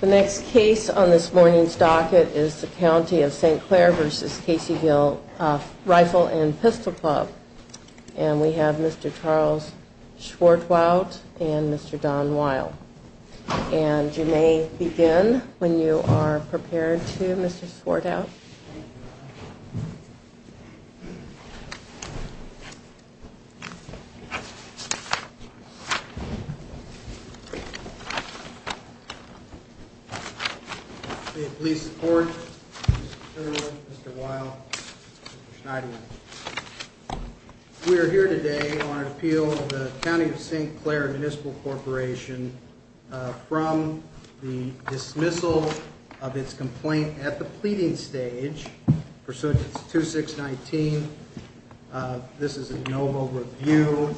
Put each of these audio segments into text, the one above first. The next case on this morning's docket is the County of St. Clair v. Caseyville Rifle & Pistol Club, and we have Mr. Charles Schwartwout and Mr. Don Weil. And you may begin when you are prepared to, Mr. Schwartwout. May it please the Court, Mr. Turner, Mr. Weil, Mr. Schneider. We are here today on an appeal of the County of St. Clair Municipal Corporation from the dismissal of its complaint at the pleading stage pursuant to 2619. This is a no vote review.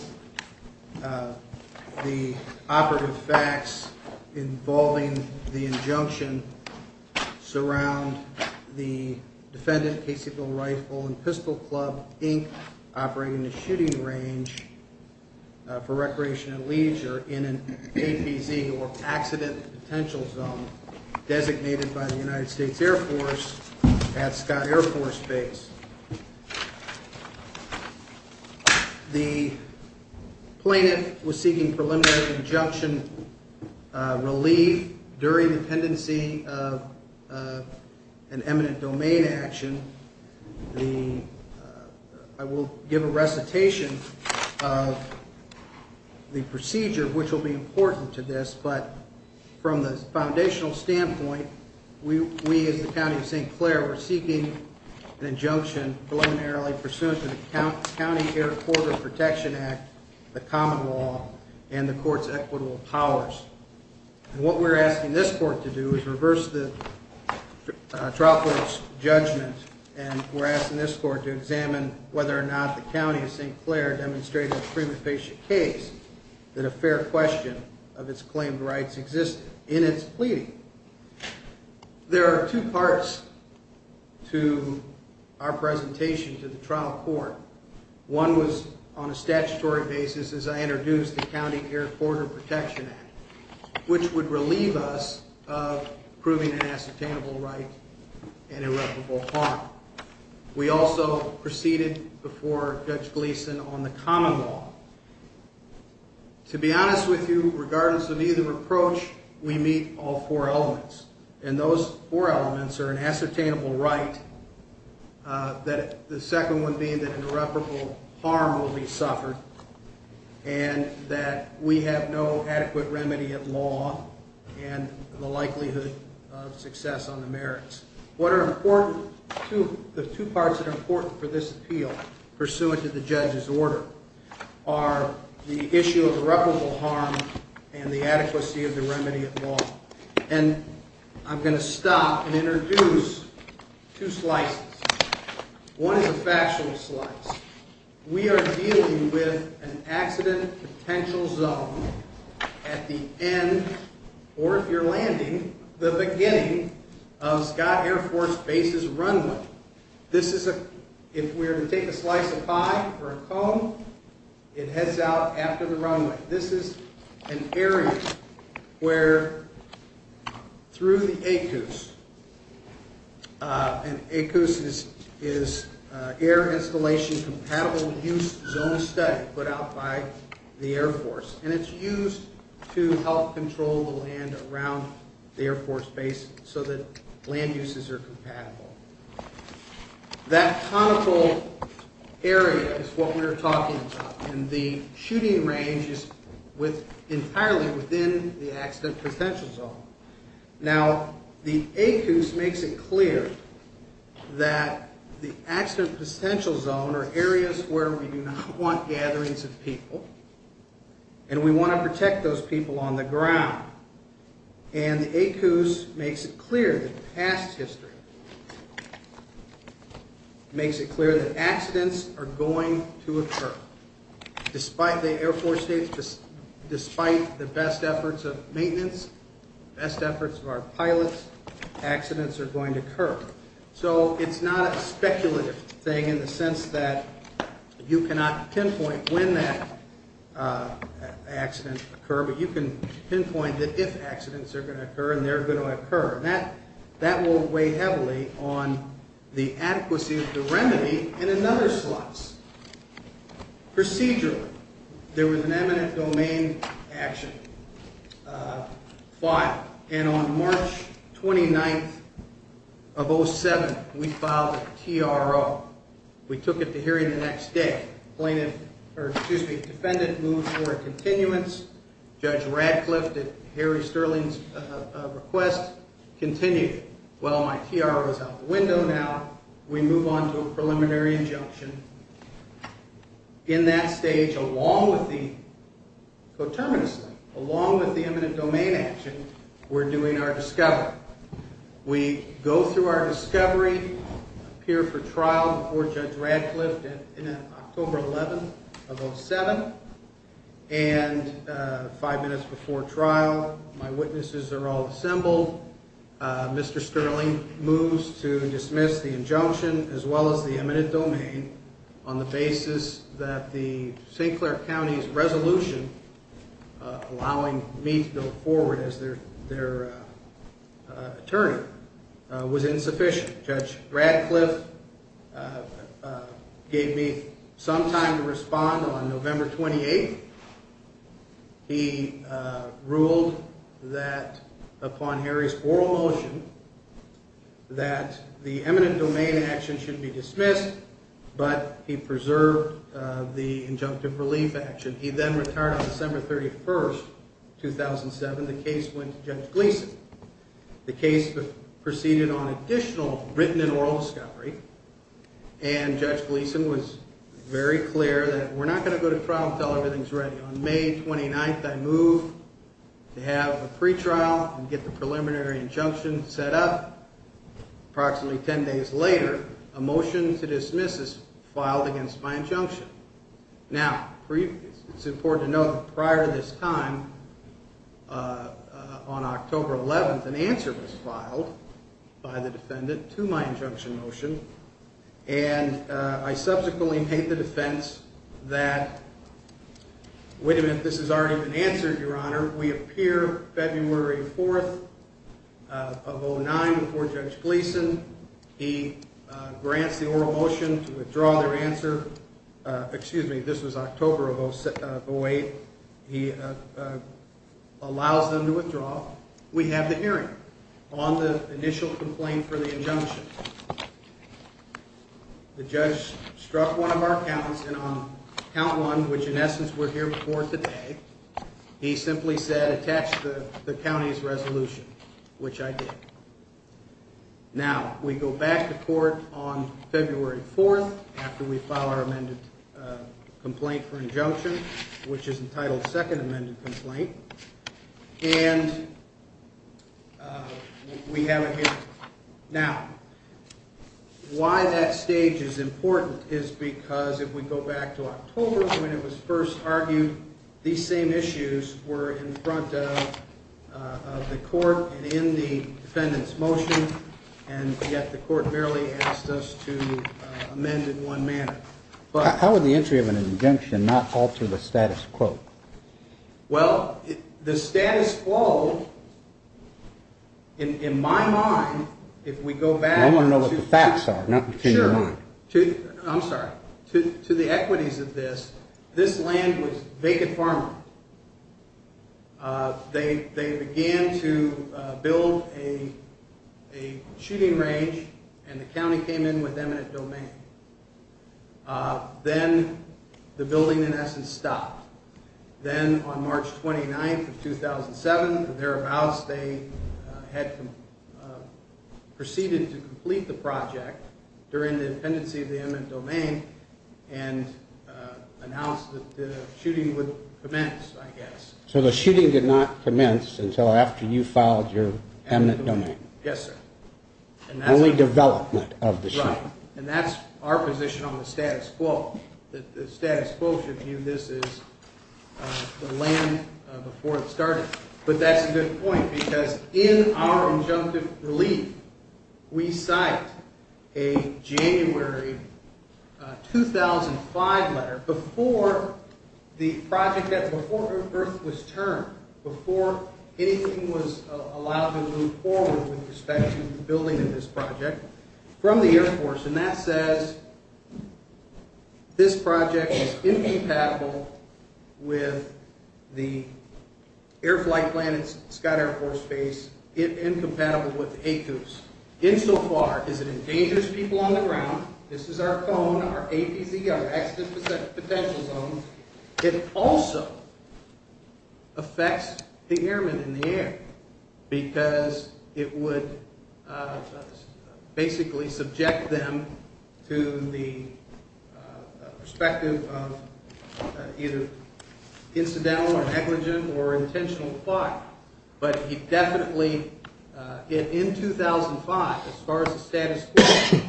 The operative facts involving the injunction surround the defendant, Caseyville Rifle & Pistol Club, Inc., operating the shooting range for recreation and leisure in an APZ, or Accident Potential Zone, designated by the United States Air Force at Scott Air Force Base. The plaintiff was seeking preliminary injunction relief during the pendency of an eminent domain action. I will give a recitation of the procedure, which will be important to this, but from the foundational standpoint, we, as the County of St. Clair, were seeking an injunction preliminarily pursuant to the County Air Corridor Protection Act, the common law, and the Court's equitable powers. And what we're asking this Court to do is reverse the trial court's judgment, and we're asking this Court to examine whether or not the County of St. Clair demonstrated a prima facie case that a fair question of its claimed rights existed in its pleading. There are two parts to our presentation to the trial court. One was on a statutory basis as I introduced the County Air Corridor Protection Act, which would relieve us of proving an ascertainable right and irreparable harm. We also proceeded before Judge Gleeson on the common law. To be honest with you, regardless of either approach, we meet all four elements, and those four elements are an ascertainable right, the second one being that irreparable harm will be suffered, and that we have no adequate remedy at law and the likelihood of success on the merits. The two parts that are important for this appeal, pursuant to the judge's order, are the issue of irreparable harm and the adequacy of the remedy at law. And I'm going to stop and introduce two slices. One is a factual slice. We are dealing with an accident potential zone at the end, or if you're landing, the beginning of Scott Air Force Base's runway. This is a, if we were to take a slice of pie or a cone, it heads out after the runway. This is an area where, through the ACOOS, and ACOOS is Air Installation Compatible Use Zone Study put out by the Air Force, and it's used to help control the land around the Air Force Base so that land uses are compatible. That conical area is what we are talking about, and the shooting range is entirely within the accident potential zone. Now, the ACOOS makes it clear that the accident potential zone are areas where we do not want gatherings of people, and we want to protect those people on the ground. And the ACOOS makes it clear, the past history, makes it clear that accidents are going to occur. Despite the Air Force Base, despite the best efforts of maintenance, best efforts of our pilots, accidents are going to occur. So it's not a speculative thing in the sense that you cannot pinpoint when that accident will occur, but you can pinpoint that if accidents are going to occur, and they're going to occur. That will weigh heavily on the adequacy of the remedy in another slice. Procedurally, there was an eminent domain action filed, and on March 29th of 07, we filed a TRO. We took it to hearing the next day. Defendant moved for a continuance. Judge Radcliffe, at Harry Sterling's request, continued. Well, my TRO is out the window now. We move on to a preliminary injunction. In that stage, along with the co-terminus, along with the eminent domain action, we're doing our discovery. We go through our discovery, appear for trial before Judge Radcliffe in October 11th of 07, and five minutes before trial, my witnesses are all assembled. Mr. Sterling moves to dismiss the injunction, as well as the eminent domain, on the basis that the St. Clair County's resolution allowing me to go forward as their attorney was insufficient. Judge Radcliffe gave me some time to respond on November 28th. He ruled that, upon Harry's oral motion, that the eminent domain action should be dismissed, but he preserved the injunctive relief action. He then retired on December 31st, 2007. The case went to Judge Gleason. The case proceeded on additional written and oral discovery, and Judge Gleason was very clear that we're not going to go to trial until everything's ready. On May 29th, I move to have a pretrial and get the preliminary injunction set up. Approximately 10 days later, a motion to dismiss is filed against my injunction. Now, it's important to note that prior to this time, on October 11th, an answer was filed by the defendant to my injunction motion, and I subsequently made the defense that, wait a minute, this has already been answered, Your Honor. We appear February 4th of 2009 before Judge Gleason. He grants the oral motion to withdraw their answer. Excuse me, this was October of 2008. He allows them to withdraw. We have the hearing on the initial complaint for the injunction. The judge struck one of our counts, and on count one, which in essence we're here before today, he simply said, attach the county's resolution, which I did. Now, we go back to court on February 4th after we file our amended complaint for injunction, which is entitled second amended complaint, and we have it here. Now, why that stage is important is because if we go back to October when it was first argued, these same issues were in front of the court and in the defendant's motion, and yet the court merely asked us to amend in one manner. How would the entry of an injunction not alter the status quo? Well, the status quo, in my mind, if we go back to the equities of this, this land was vacant farmland. They began to build a shooting range, and the county came in with eminent domain. Then the building, in essence, stopped. Then on March 29th of 2007, thereabouts, they had proceeded to complete the project during the dependency of the eminent domain and announced that the shooting would commence, I guess. So the shooting did not commence until after you filed your eminent domain? Yes, sir. Only development of the shooting. Right, and that's our position on the status quo. The status quo should view this as the land before it started, but that's a good point because in our injunctive relief, we cite a January 2005 letter, the project before Earth was turned, before anything was allowed to move forward with respect to the building of this project, from the Air Force, and that says this project is incompatible with the Air Flight Plan at Scott Air Force Base, incompatible with ACOOS, insofar as it endangers people on the ground. This is our cone, our APZ, our accident potential zone. It also affects the airmen in the air because it would basically subject them to the perspective of either incidental or negligent or intentional fire, but it definitely, in 2005, as far as the status quo,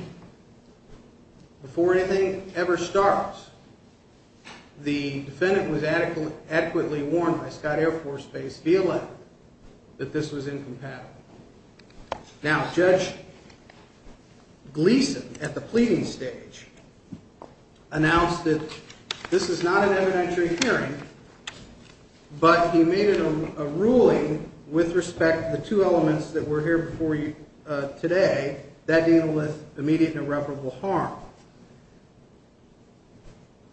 before anything ever starts, the defendant was adequately warned by Scott Air Force Base via letter that this was incompatible. Now, Judge Gleeson, at the pleading stage, announced that this is not an evidentiary hearing, but he made it a ruling with respect to the two elements that were here before you today, that deal with immediate and irreparable harm.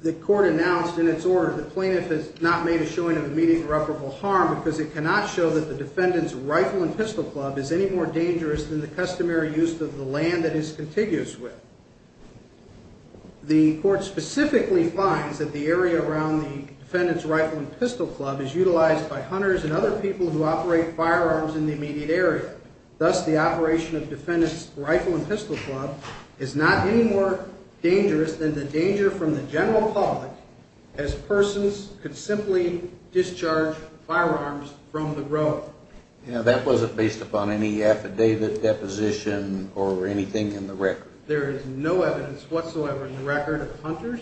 The court announced in its order the plaintiff has not made a showing of immediate and irreparable harm because it cannot show that the defendant's rifle and pistol club is any more dangerous than the customary use of the land that it is contiguous with. The court specifically finds that the area around the defendant's rifle and pistol club is utilized by hunters and other people who operate firearms in the immediate area. Thus, the operation of defendant's rifle and pistol club is not any more dangerous than the danger from the general public as persons could simply discharge firearms from the road. Now, that wasn't based upon any affidavit deposition or anything in the record. There is no evidence whatsoever in the record of hunters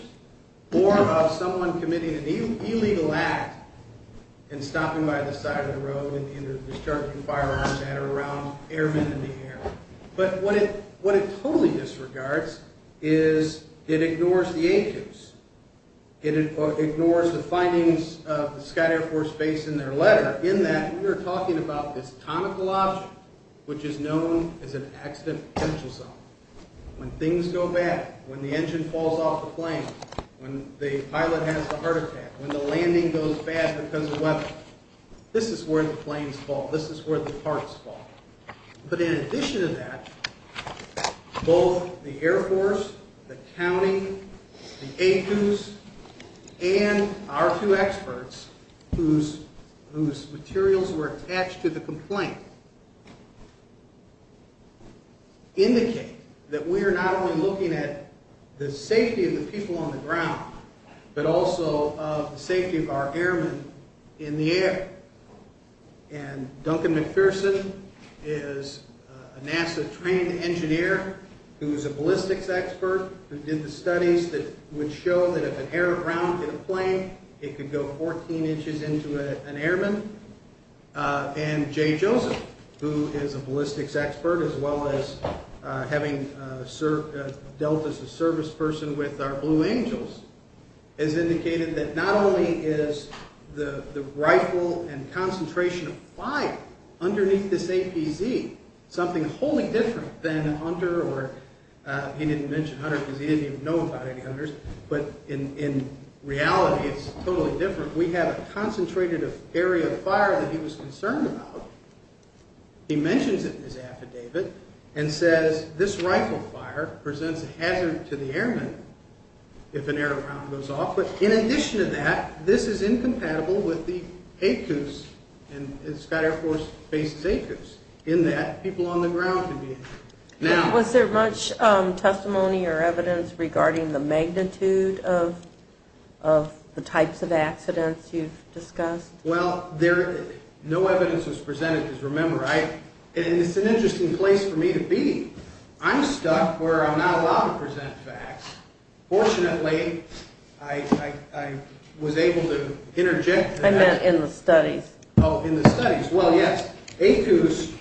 or of someone committing an illegal act and stopping by the side of the road and discharging firearms at or around airmen in the air. But what it totally disregards is it ignores the agents. It ignores the findings of the Scott Air Force Base in their letter, in that we are talking about this conical object which is known as an accident potential zone. When things go bad, when the engine falls off the plane, when the pilot has a heart attack, when the landing goes bad because of weather, this is where the planes fall. This is where the parts fall. But in addition to that, both the Air Force, the county, the ACUS, and our two experts whose materials were attached to the complaint indicate that we are not only looking at the safety of the people on the ground, but also of the safety of our airmen in the air. And Duncan McPherson is a NASA trained engineer who is a ballistics expert who did the studies that would show that if an air round hit a plane, it could go 14 inches into an airman. And Jay Joseph, who is a ballistics expert as well as having dealt as a service person with our Blue Angels, has indicated that not only is the rifle and concentration of fire underneath this APZ something wholly different than under, or he didn't mention 100 because he didn't even know about any 100s, but in reality it's totally different. We have a concentrated area of fire that he was concerned about. He mentions it in his affidavit and says, this rifle fire presents a hazard to the airmen if an air round goes off. But in addition to that, this is incompatible with the ACUS, and the Scott Air Force faces ACUS, in that people on the ground can be injured. Was there much testimony or evidence regarding the magnitude of the types of accidents you've discussed? Well, no evidence was presented, because remember, it's an interesting place for me to be. I'm stuck where I'm not allowed to present facts. Fortunately, I was able to interject. I meant in the studies. Oh, in the studies. Well, yes. ACUS,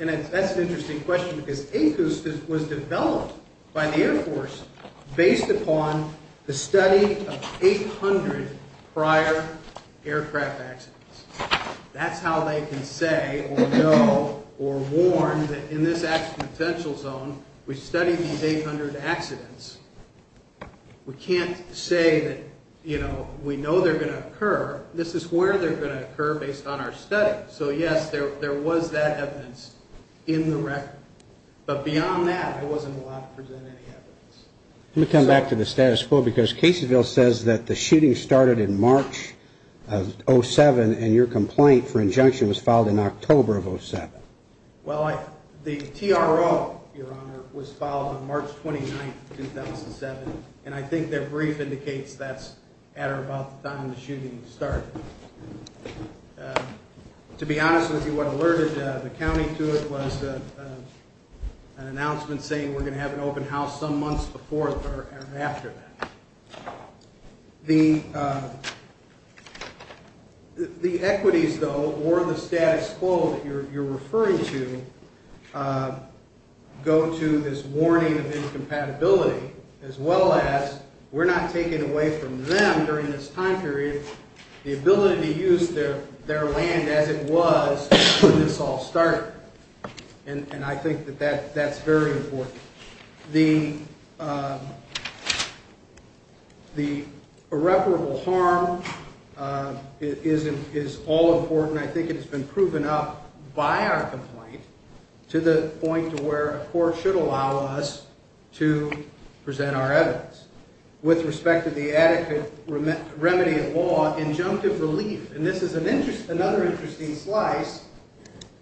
and that's an interesting question, because ACUS was developed by the Air Force based upon the study of 800 prior aircraft accidents. That's how they can say or know or warn that in this accident potential zone, we studied these 800 accidents. We can't say that, you know, we know they're going to occur. This is where they're going to occur based on our study. So, yes, there was that evidence in the record. But beyond that, I wasn't allowed to present any evidence. Let me come back to the status quo, because Caseyville says that the shooting started in March of 07, and your complaint for injunction was filed in October of 07. Well, the TRO, Your Honor, was filed on March 29, 2007, and I think their brief indicates that's at or about the time the shooting started. To be honest with you, what alerted the county to it was an announcement saying we're going to have an open house some months before or after that. The equities, though, or the status quo that you're referring to, go to this warning of incompatibility as well as we're not taking away from them during this time period the ability to use their land as it was when this all started. And I think that that's very important. The irreparable harm is all important. I think it has been proven up by our complaint to the point where a court should allow us to present our evidence. With respect to the adequate remedy of law, injunctive relief, and this is another interesting slice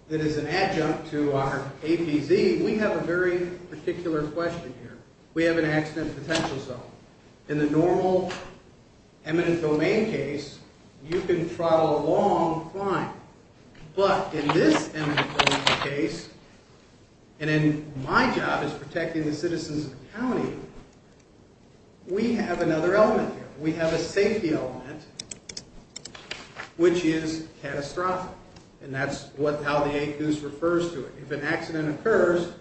that is an adjunct to our APZ, we have a very particular question here. We have an accident potential zone. In the normal eminent domain case, you can throttle a long climb. But in this eminent domain case, and my job is protecting the citizens of the county, we have another element here. We have a safety element, which is catastrophic, and that's how the ACOOS refers to it. If an accident occurs,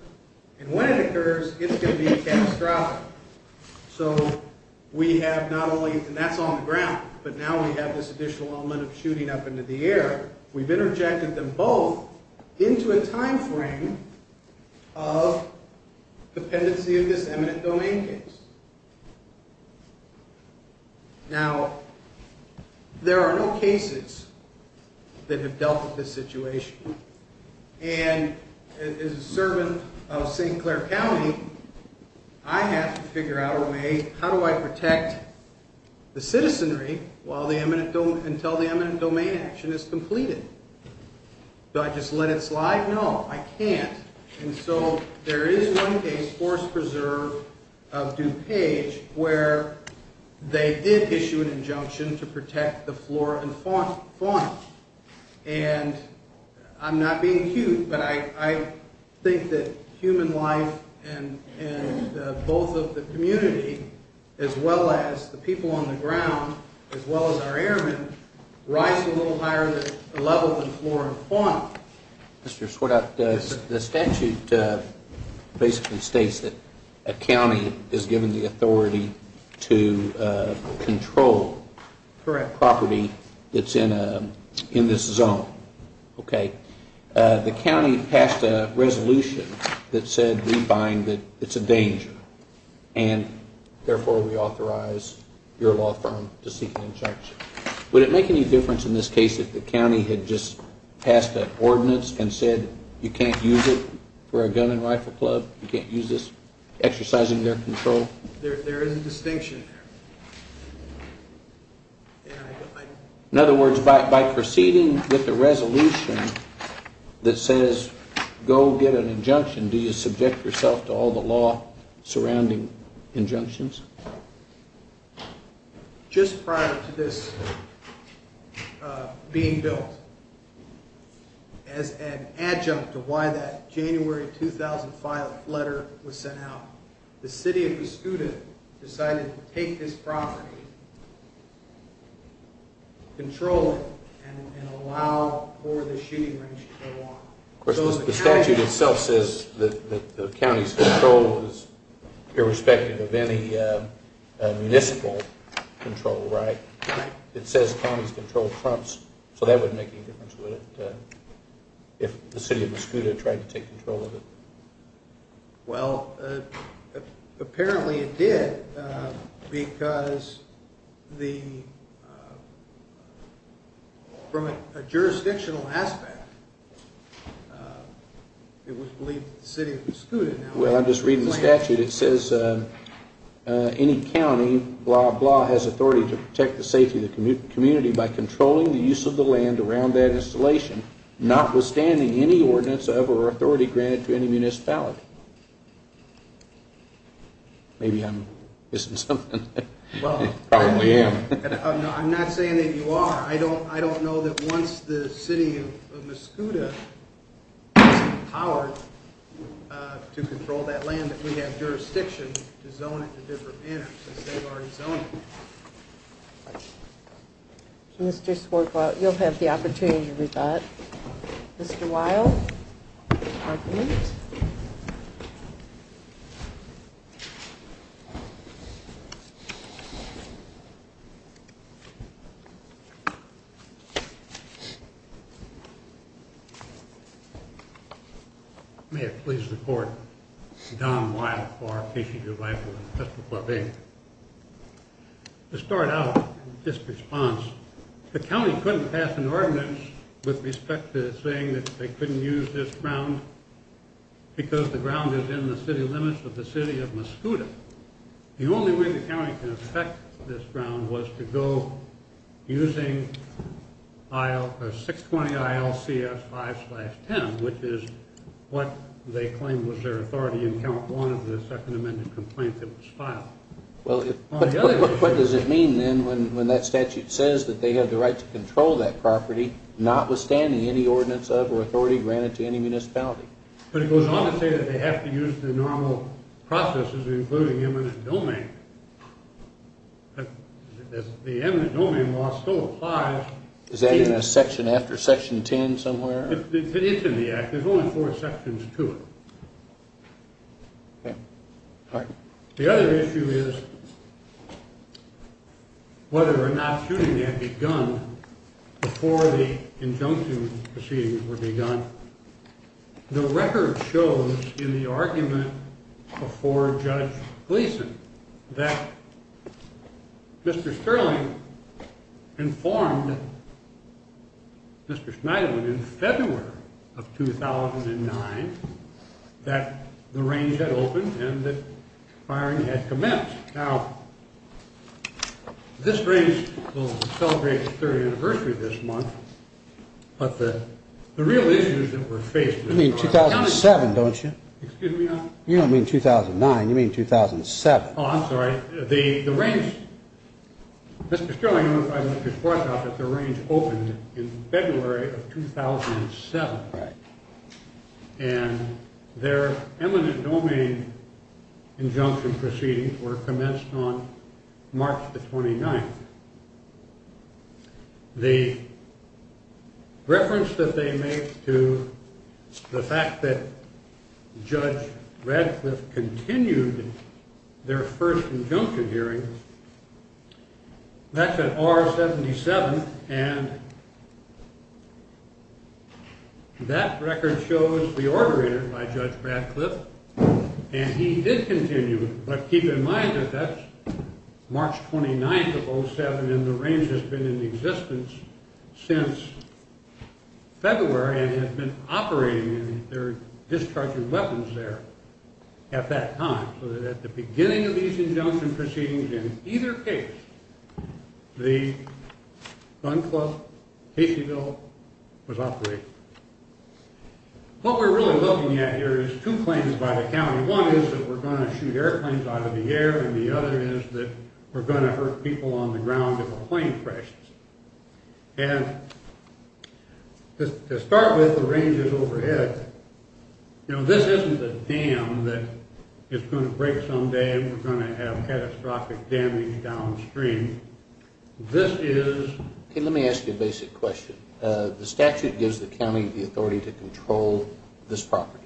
and when it occurs, it's going to be catastrophic. So we have not only, and that's on the ground, but now we have this additional element of shooting up into the air. We've interjected them both into a time frame of dependency of this eminent domain case. Now, there are no cases that have dealt with this situation. And as a servant of St. Clair County, I have to figure out a way, how do I protect the citizenry until the eminent domain action is completed? Do I just let it slide? No, I can't. And so there is one case, Forest Preserve of DuPage, where they did issue an injunction to protect the flora and fauna. And I'm not being cute, but I think that human life and both of the community, as well as the people on the ground, as well as our airmen, rise a little higher level than flora and fauna. Mr. Swartout, the statute basically states that a county is given the authority to control property that's in this zone, okay? The county passed a resolution that said we find that it's a danger, and therefore we authorize your law firm to seek an injunction. Would it make any difference in this case if the county had just passed an ordinance and said you can't use it for a gun and rifle club, you can't use this, exercising their control? There is a distinction there. In other words, by proceeding with the resolution that says go get an injunction, do you subject yourself to all the law surrounding injunctions? Just prior to this being built, as an adjunct to why that January 2005 letter was sent out, the city of Mascoutah decided to take this property, control it, and allow for the shooting range to go on. The statute itself says that the county's control is irrespective of any municipal control, right? It says counties control trumps, so that wouldn't make any difference, would it, if the city of Mascoutah tried to take control of it? Well, apparently it did because from a jurisdictional aspect, it was believed that the city of Mascoutah now had a plan. Well, I'm just reading the statute. It says any county, blah, blah, has authority to protect the safety of the community by controlling the use of the land around that installation, notwithstanding any ordinance or authority granted to any municipality. Maybe I'm missing something. Probably am. I'm not saying that you are. I don't know that once the city of Mascoutah is empowered to control that land that we have jurisdiction to zone it in a different manner since they've already zoned it. Mr. Swarbrick, you'll have the opportunity to read that. Mr. Weill, your argument. May it please the court. Don Weill, Farr, Keishy DeVito, and Mr. Flavin. To start out, this response. The county couldn't pass an ordinance with respect to saying that they couldn't use this ground because the ground is in the city limits of the city of Mascoutah. The only way the county can affect this ground was to go using 620 ILCS 5-10, which is what they claimed was their authority in Count 1 of the second amended complaint that was filed. What does it mean then when that statute says that they have the right to control that property notwithstanding any ordinance of or authority granted to any municipality? But it goes on to say that they have to use the normal processes including eminent domain. The eminent domain law still applies. Is that in a section after section 10 somewhere? It's in the act. There's only four sections to it. The other issue is whether or not shooting may have begun before the injunction proceedings were begun. The record shows in the argument before Judge Gleason that Mr. Sterling informed Mr. Schneiderman in February of 2009 that the range had opened and that firing had commenced. Now, this range will celebrate its third anniversary this month, but the real issues that were faced... You mean 2007, don't you? Excuse me, Your Honor? You don't mean 2009. You mean 2007. Oh, I'm sorry. The range... Mr. Sterling notified Mr. Schwartzoff that the range opened in February of 2007. Right. And their eminent domain injunction proceedings were commenced on March the 29th. The reference that they make to the fact that Judge Radcliffe continued their first injunction hearing, that's at R-77, and that record shows the order entered by Judge Radcliffe, and he did continue, but keep in mind that that's March 29th of 2007, and the range has been in existence since February and has been operating and they're discharging weapons there at that time, so that at the beginning of these injunction proceedings, in either case, the gun club, caseyville, was operating. What we're really looking at here is two claims by the county. One is that we're going to shoot airplanes out of the air, and the other is that we're going to hurt people on the ground if a plane crashes. And to start with, the range is overhead. You know, this isn't a dam that is going to break someday and we're going to have catastrophic damage downstream. This is... Okay, let me ask you a basic question. The statute gives the county the authority to control this property.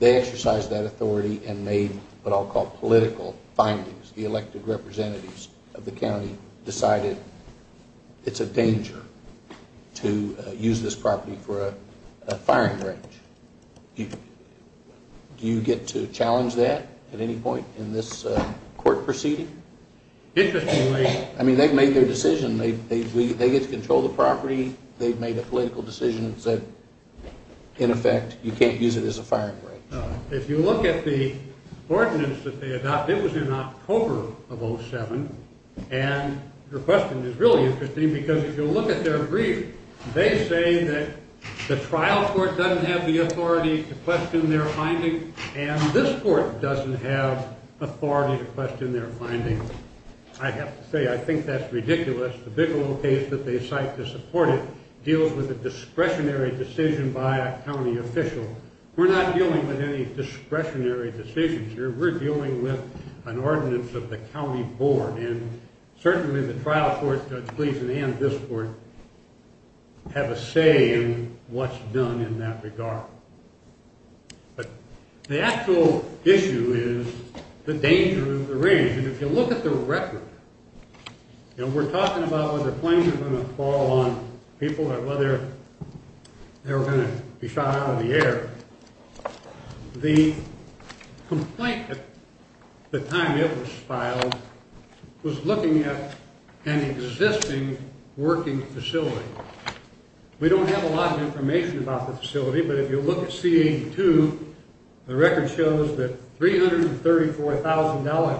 They exercise that authority and made what I'll call political findings. The elected representatives of the county decided it's a danger to use this property for a firing range. Do you get to challenge that at any point in this court proceeding? Interestingly... I mean, they've made their decision. They get to control the property. They've made a political decision that, in effect, you can't use it as a firing range. If you look at the ordinance that they adopted, it was in October of 2007, and your question is really interesting because if you look at their brief, they say that the trial court doesn't have the authority to question their findings, and this court doesn't have authority to question their findings. I have to say, I think that's ridiculous. The Bigelow case that they cite to support it deals with a discretionary decision by a county official. We're not dealing with any discretionary decisions here. We're dealing with an ordinance of the county board, and certainly the trial court, Judge Gleason, and this court have a say in what's done in that regard. But the actual issue is the danger of the range, and if you look at the record, we're talking about whether planes are going to fall on people or whether they're going to be shot out of the air. The complaint at the time it was filed was looking at an existing working facility. We don't have a lot of information about the facility, but if you look at C-82, the record shows that $334,000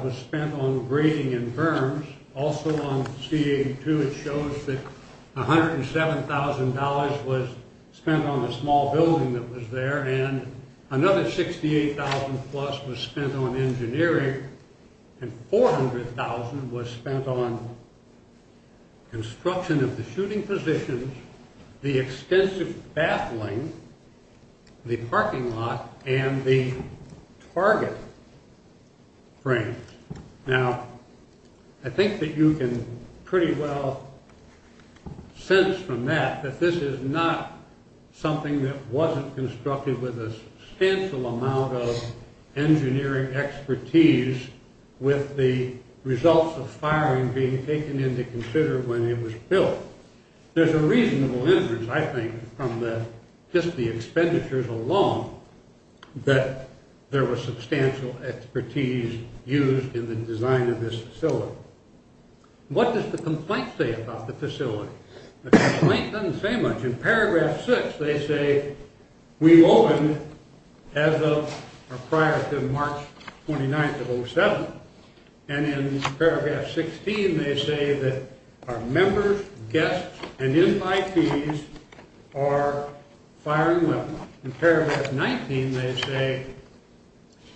was spent on grading and firms. Also on C-82, it shows that $107,000 was spent on a small building that was there, and another $68,000 plus was spent on engineering, and $400,000 was spent on construction of the shooting positions, the extensive baffling, the parking lot, and the target frames. Now, I think that you can pretty well sense from that that this is not something that wasn't constructed with a substantial amount of engineering expertise with the results of firing being taken into consider when it was built. There's a reasonable inference, I think, from just the expenditures alone that there was substantial expertise used in the design of this facility. What does the complaint say about the facility? The complaint doesn't say much. In paragraph 6, they say, we opened as of or prior to March 29th of 07, and in paragraph 16, they say that our members, guests, and invitees are firing weapons. In paragraph 19, they say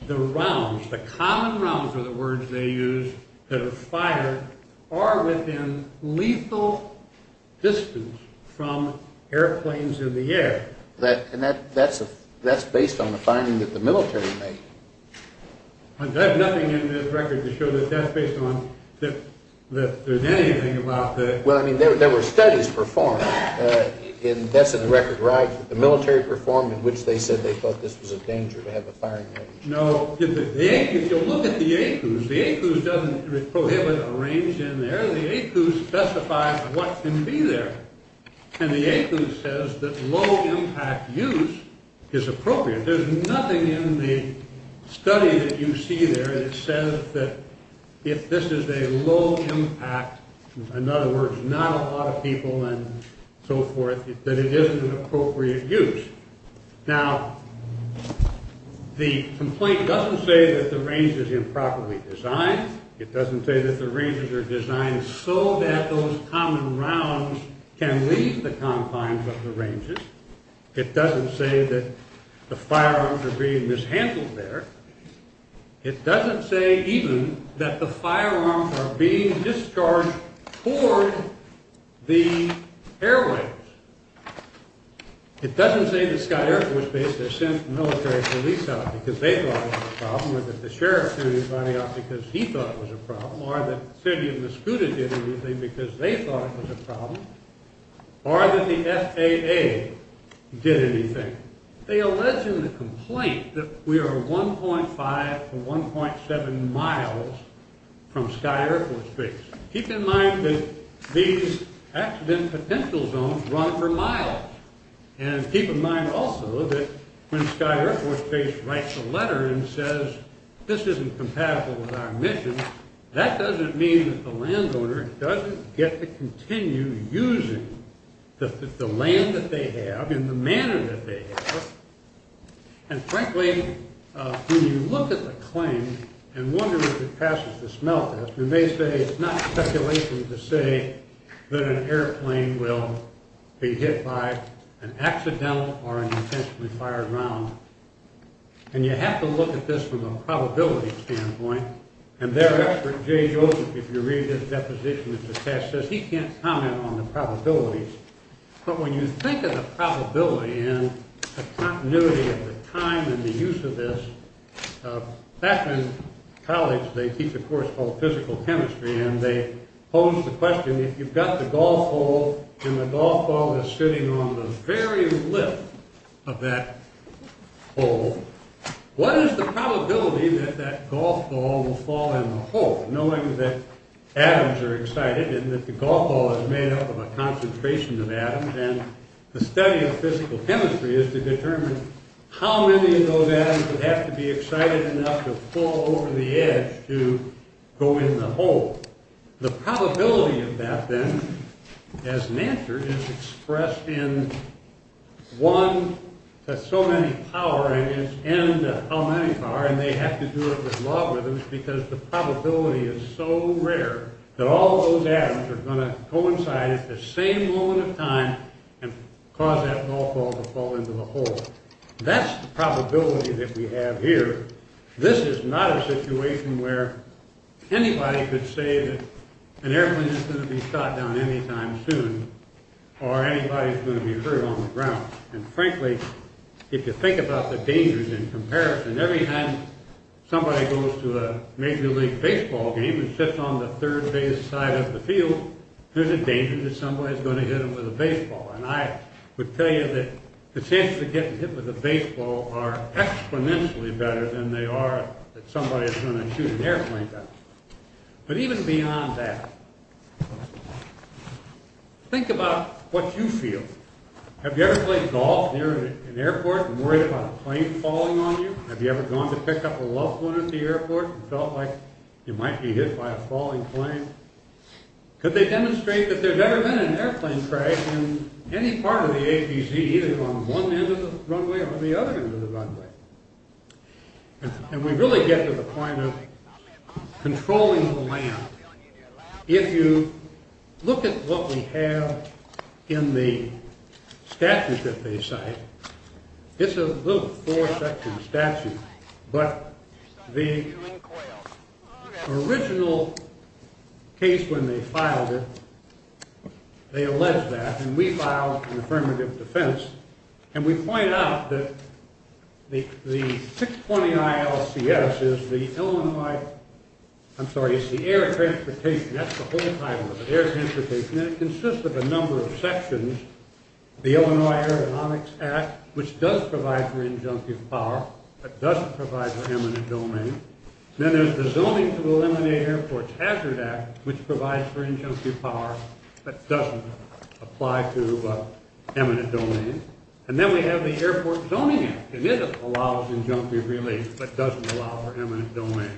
the rounds, the common rounds are the words they use, that are fired are within lethal distance from airplanes in the air. And that's based on the finding that the military made. I have nothing in this record to show that that's based on that there's anything about the- Well, I mean, there were studies performed, and that's in the record, right? The military performed in which they said they thought this was a danger to have the firing weapons. No, if you look at the ACOOs, the ACOOs doesn't prohibit a range in there. The ACOOs specify what can be there. And the ACOO says that low-impact use is appropriate. There's nothing in the study that you see there that says that if this is a low-impact, in other words, not a lot of people and so forth, that it isn't an appropriate use. Now, the complaint doesn't say that the range is improperly designed. It doesn't say that the ranges are designed so that those common rounds can leave the confines of the ranges. It doesn't say that the firearms are being mishandled there. It doesn't say even that the firearms are being discharged toward the airways. It doesn't say that Sky Air Force Base, they sent the military police out because they thought it was a problem, or that the sheriff threw his body out because he thought it was a problem, or that the city and the SCUDA did everything because they thought it was a problem, or that the FAA did anything. They allege in the complaint that we are 1.5 to 1.7 miles from Sky Air Force Base. Keep in mind that these accident potential zones run for miles. And keep in mind also that when Sky Air Force Base writes a letter and says this isn't compatible with our mission, that doesn't mean that the landowner doesn't get to continue using the land that they have in the manner that they have. And frankly, when you look at the claim and wonder if it passes the smell test, you may say it's not speculation to say that an airplane will be hit by an accidental or an intentionally fired round. And you have to look at this from a probability standpoint. And their expert, Jay Joseph, if you read his deposition at the test, says he can't comment on the probabilities. But when you think of the probability and the continuity of the time and the use of this, back in college they teach a course called physical chemistry and they pose the question, if you've got the golf ball and the golf ball is sitting on the very lip of that hole, what is the probability that that golf ball will fall in the hole, knowing that atoms are excited and that the golf ball is made up of a concentration of atoms and the study of physical chemistry is to determine how many of those atoms would have to be excited enough to fall over the edge to go in the hole. The probability of that then, as an answer, is expressed in one to so many power and how many power, and they have to do it with logarithms because the probability is so rare that all those atoms are going to coincide at the same moment of time and cause that golf ball to fall into the hole. That's the probability that we have here. This is not a situation where anybody could say that an airplane is going to be shot down anytime soon or anybody is going to be hurt on the ground. And frankly, if you think about the dangers in comparison, every time somebody goes to a major league baseball game and sits on the third base side of the field, there's a danger that somebody is going to hit them with a baseball. And I would tell you that the chances of getting hit with a baseball are exponentially better than they are that somebody is going to shoot an airplane down. But even beyond that, think about what you feel. Have you ever played golf near an airport and worried about a plane falling on you? Have you ever gone to pick up a loved one at the airport and felt like you might be hit by a falling plane? Could they demonstrate that there's never been an airplane crash in any part of the ABC, either on one end of the runway or the other end of the runway? And we really get to the point of controlling the land. If you look at what we have in the statute that they cite, it's a little four-section statute, but the original case when they filed it, they alleged that. And we filed an affirmative defense. And we point out that the 620-ILCS is the Illinois—I'm sorry, it's the air transportation. That's the whole title of it, air transportation. And it consists of a number of sections. There's the Illinois Aeronautics Act, which does provide for injunctive power but doesn't provide for eminent domain. Then there's the Zoning to Eliminate Airports Hazard Act, which provides for injunctive power but doesn't apply to eminent domain. And then we have the Airport Zoning Act, and it allows injunctive relief but doesn't allow for eminent domain.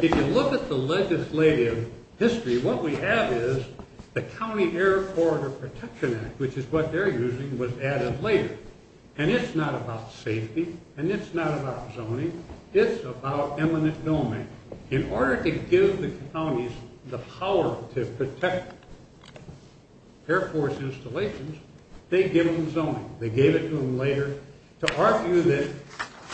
If you look at the legislative history, what we have is the County Air Corridor Protection Act, which is what they're using, was added later. And it's not about safety, and it's not about zoning. It's about eminent domain. In order to give the counties the power to protect Air Force installations, they give them zoning. They gave it to them later to argue that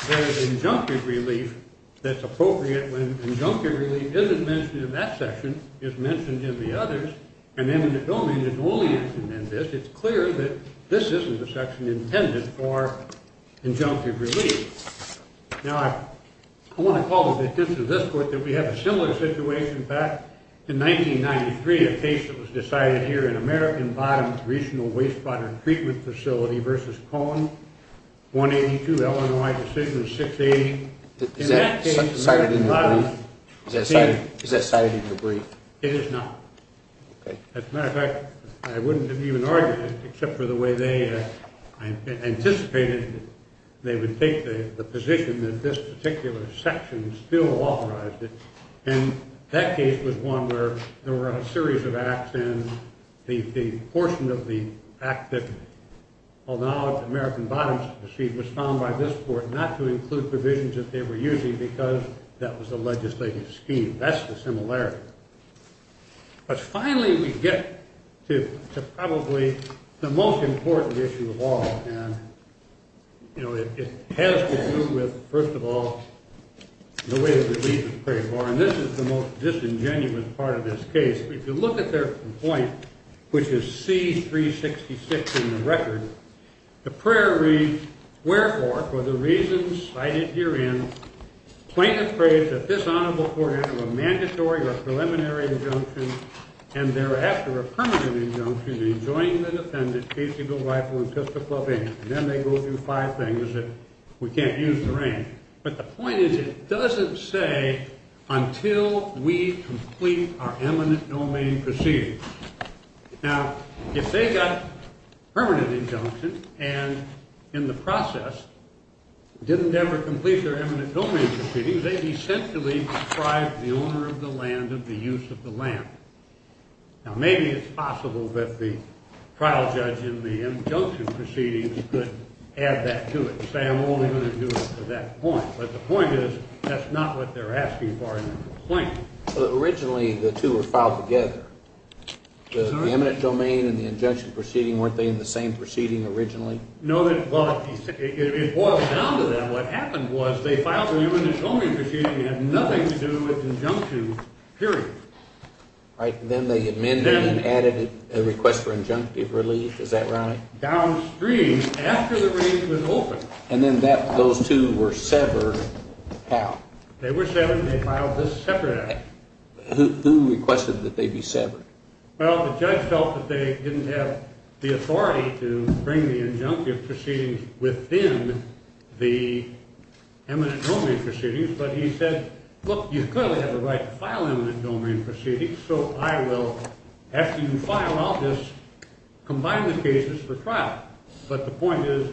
there's injunctive relief that's appropriate when injunctive relief isn't mentioned in that section, is mentioned in the others, and eminent domain is only mentioned in this. It's clear that this isn't the section intended for injunctive relief. Now, I want to call to the attention of this court that we have a similar situation back in 1993, a case that was decided here in American Bottoms Regional Wastewater Treatment Facility v. Cohen, 182 Illinois Decision 680. Is that cited in the brief? It is not. As a matter of fact, I wouldn't have even argued it except for the way they anticipated they would take the position that this particular section still authorized it. And that case was one where there were a series of acts, and the portion of the act that allowed American Bottoms to proceed was found by this court not to include provisions that they were using because that was the legislative scheme. That's the similarity. But finally, we get to probably the most important issue of all, and, you know, it has to do with, first of all, the way the reason was prayed for, and this is the most disingenuous part of this case. If you look at their point, which is C-366 in the record, the prayer reads, Wherefore, for the reasons cited herein, plaintiff prays that this honorable court enter a mandatory or preliminary injunction, and thereafter a permanent injunction in enjoining the defendant's case-able rightful and fiscal obligation. And then they go through five things that we can't use to rank. But the point is it doesn't say until we complete our eminent domain proceedings. Now, if they got permanent injunction and, in the process, didn't ever complete their eminent domain proceedings, they essentially deprived the owner of the land of the use of the land. Now, maybe it's possible that the trial judge in the injunction proceedings could add that to it and say, I'm only going to do it to that point. But the point is that's not what they're asking for in their complaint. Originally, the two were filed together. The eminent domain and the injunction proceeding, weren't they in the same proceeding originally? No. Well, it boils down to then what happened was they filed the eminent domain proceeding and had nothing to do with injunction, period. Right. Then they amended and added a request for injunctive relief. Is that right? Downstream, after the range was open. And then those two were severed how? They were severed and they filed this separate act. Who requested that they be severed? Well, the judge felt that they didn't have the authority to bring the injunctive proceedings within the eminent domain proceedings. But he said, look, you clearly have the right to file eminent domain proceedings, so I will, after you file, I'll just combine the cases for trial. But the point is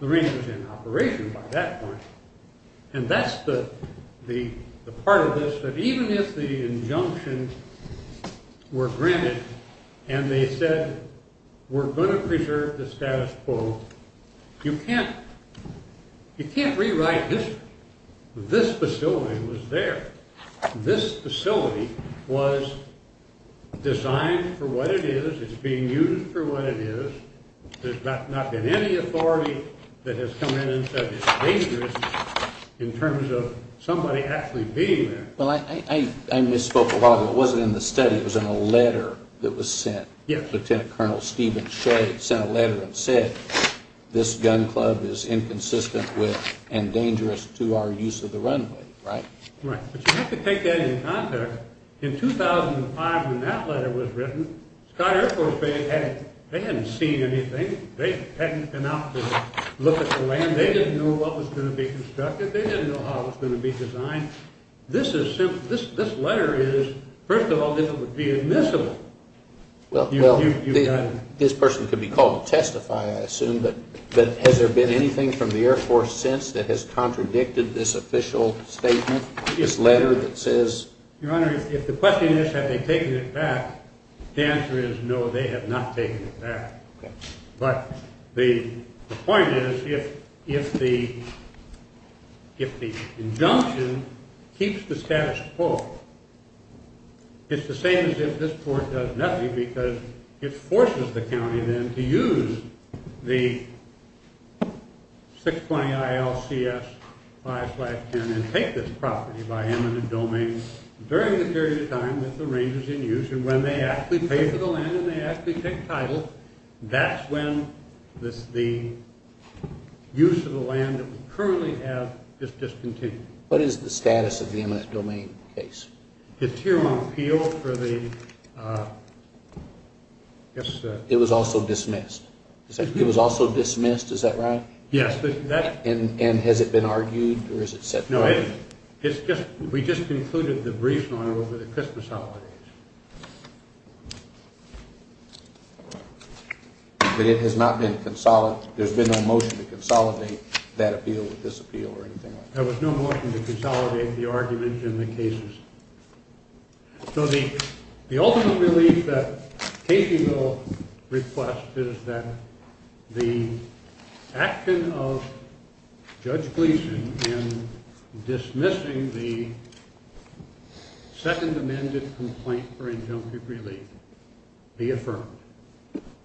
the range was in operation by that point. And that's the part of this, that even if the injunctions were granted and they said, we're going to preserve the status quo, you can't rewrite history. This facility was there. This facility was designed for what it is. It's being used for what it is. There's not been any authority that has come in and said it's dangerous in terms of somebody actually being there. Well, I misspoke a lot. It wasn't in the study. It was in a letter that was sent. Lieutenant Colonel Stephen Shade sent a letter and said this gun club is inconsistent with and dangerous to our use of the runway, right? Right. But you have to take that into context. In 2005, when that letter was written, Sky Air Force Base, they hadn't seen anything. They hadn't been out to look at the land. They didn't know what was going to be constructed. They didn't know how it was going to be designed. This letter is, first of all, this would be admissible. Well, this person could be called to testify, I assume, but has there been anything from the Air Force since that has contradicted this official statement, this letter that says? Your Honor, if the question is have they taken it back, the answer is no, they have not taken it back. But the point is if the injunction keeps the status quo, it's the same as if this court does nothing because it forces the county then to use the 620-IL-CS-5510 and take this property by eminent domain during the period of time that the range is in use and when they actually pay for the land and they actually take title, that's when the use of the land that we currently have is discontinued. What is the status of the eminent domain case? It's here on appeal for the— It was also dismissed. It was also dismissed, is that right? Yes. And has it been argued or is it set forth? No, it's just we just concluded the brief, Your Honor, over the Christmas holidays. But it has not been consolidated? There's been no motion to consolidate that appeal with this appeal or anything like that? There was no motion to consolidate the argument in the cases. So the ultimate relief that Casey will request is that the action of Judge Gleeson in dismissing the second amended complaint for injunctive relief be affirmed.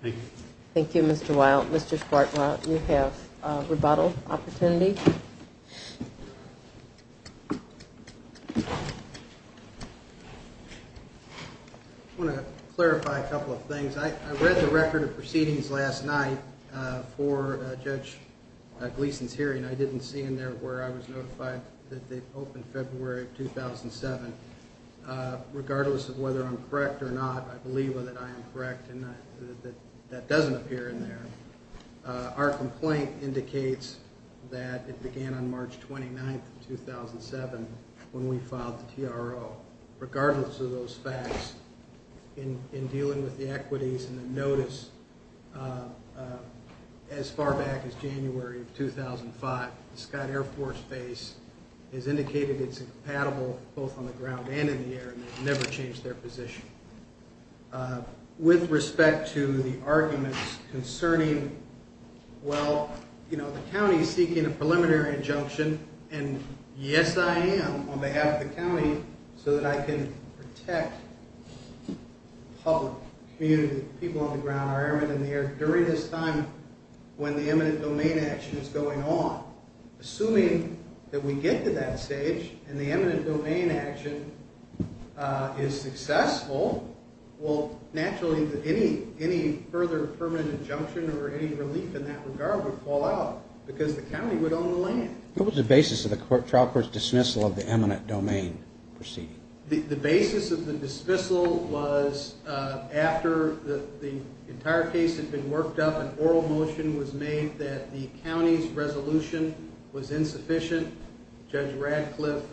Thank you. Thank you, Mr. Wilde. Mr. Schwartz, you have a rebuttal opportunity. I want to clarify a couple of things. I read the record of proceedings last night for Judge Gleeson's hearing. I didn't see in there where I was notified that they opened February 2007. Regardless of whether I'm correct or not, I believe that I am correct and that that doesn't appear in there. Our complaint indicates that it began on March 29, 2007 when we filed the TRO. Regardless of those facts, in dealing with the equities and the notice, as far back as January of 2005, the Scott Air Force Base has indicated it's incompatible both on the ground and in the air and they've never changed their position. With respect to the arguments concerning, well, the county is seeking a preliminary injunction and yes I am on behalf of the county so that I can protect the public, community, the people on the ground, our airmen and the airmen during this time when the eminent domain action is going on. Assuming that we get to that stage and the eminent domain action is successful, well, naturally any further permanent injunction or any relief in that regard would fall out because the county would own the land. What was the basis of the trial court's dismissal of the eminent domain proceeding? The basis of the dismissal was after the entire case had been worked up, an oral motion was made that the county's resolution was insufficient. Judge Radcliffe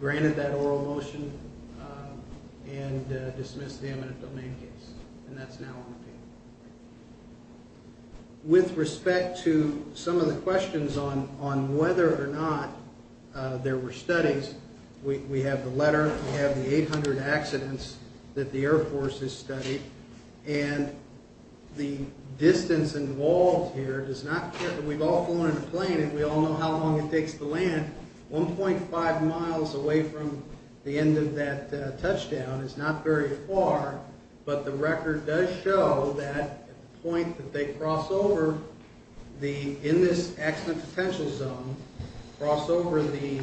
granted that oral motion and dismissed the eminent domain case and that's now on the table. With respect to some of the questions on whether or not there were studies, we have the letter, we have the 800 accidents that the Air Force has studied and the distance involved here does not care. We've all flown in a plane and we all know how long it takes to land. 1.5 miles away from the end of that touchdown is not very far, but the record does show that the point that they cross over in this accident potential zone, cross over the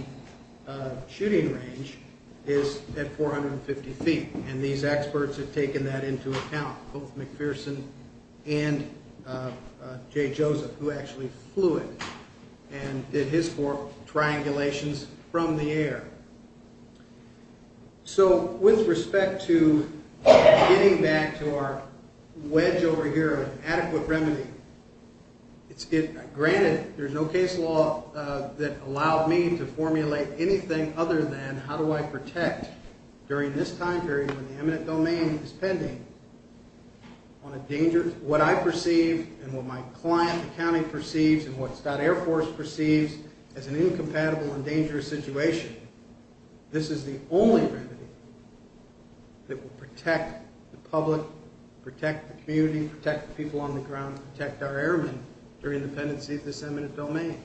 shooting range, is at 450 feet and these experts have taken that into account, both McPherson and J. Joseph, who actually flew it and did his for triangulations from the air. So with respect to getting back to our wedge over here of adequate remedy, granted there's no case law that allowed me to formulate anything other than how do I protect during this time period when the eminent domain is pending what I perceive and what my client, the county, perceives and what Stout Air Force perceives as an incompatible and dangerous situation. This is the only remedy that will protect the public, protect the community, protect the people on the ground, protect our airmen during the pendency of this eminent domain.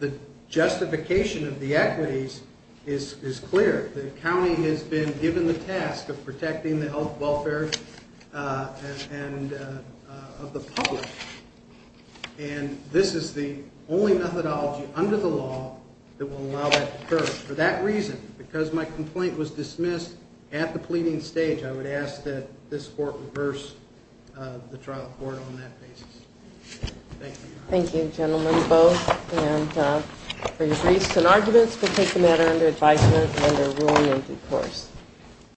The justification of the equities is clear. The county has been given the task of protecting the health, welfare of the public and this is the only methodology under the law that will allow that to occur. For that reason, because my complaint was dismissed at the pleading stage, I would ask that this court reverse the trial court on that basis. Thank you. Thank you, gentlemen, both. And for your briefs and arguments, we'll take the matter under advisement under ruling in due course.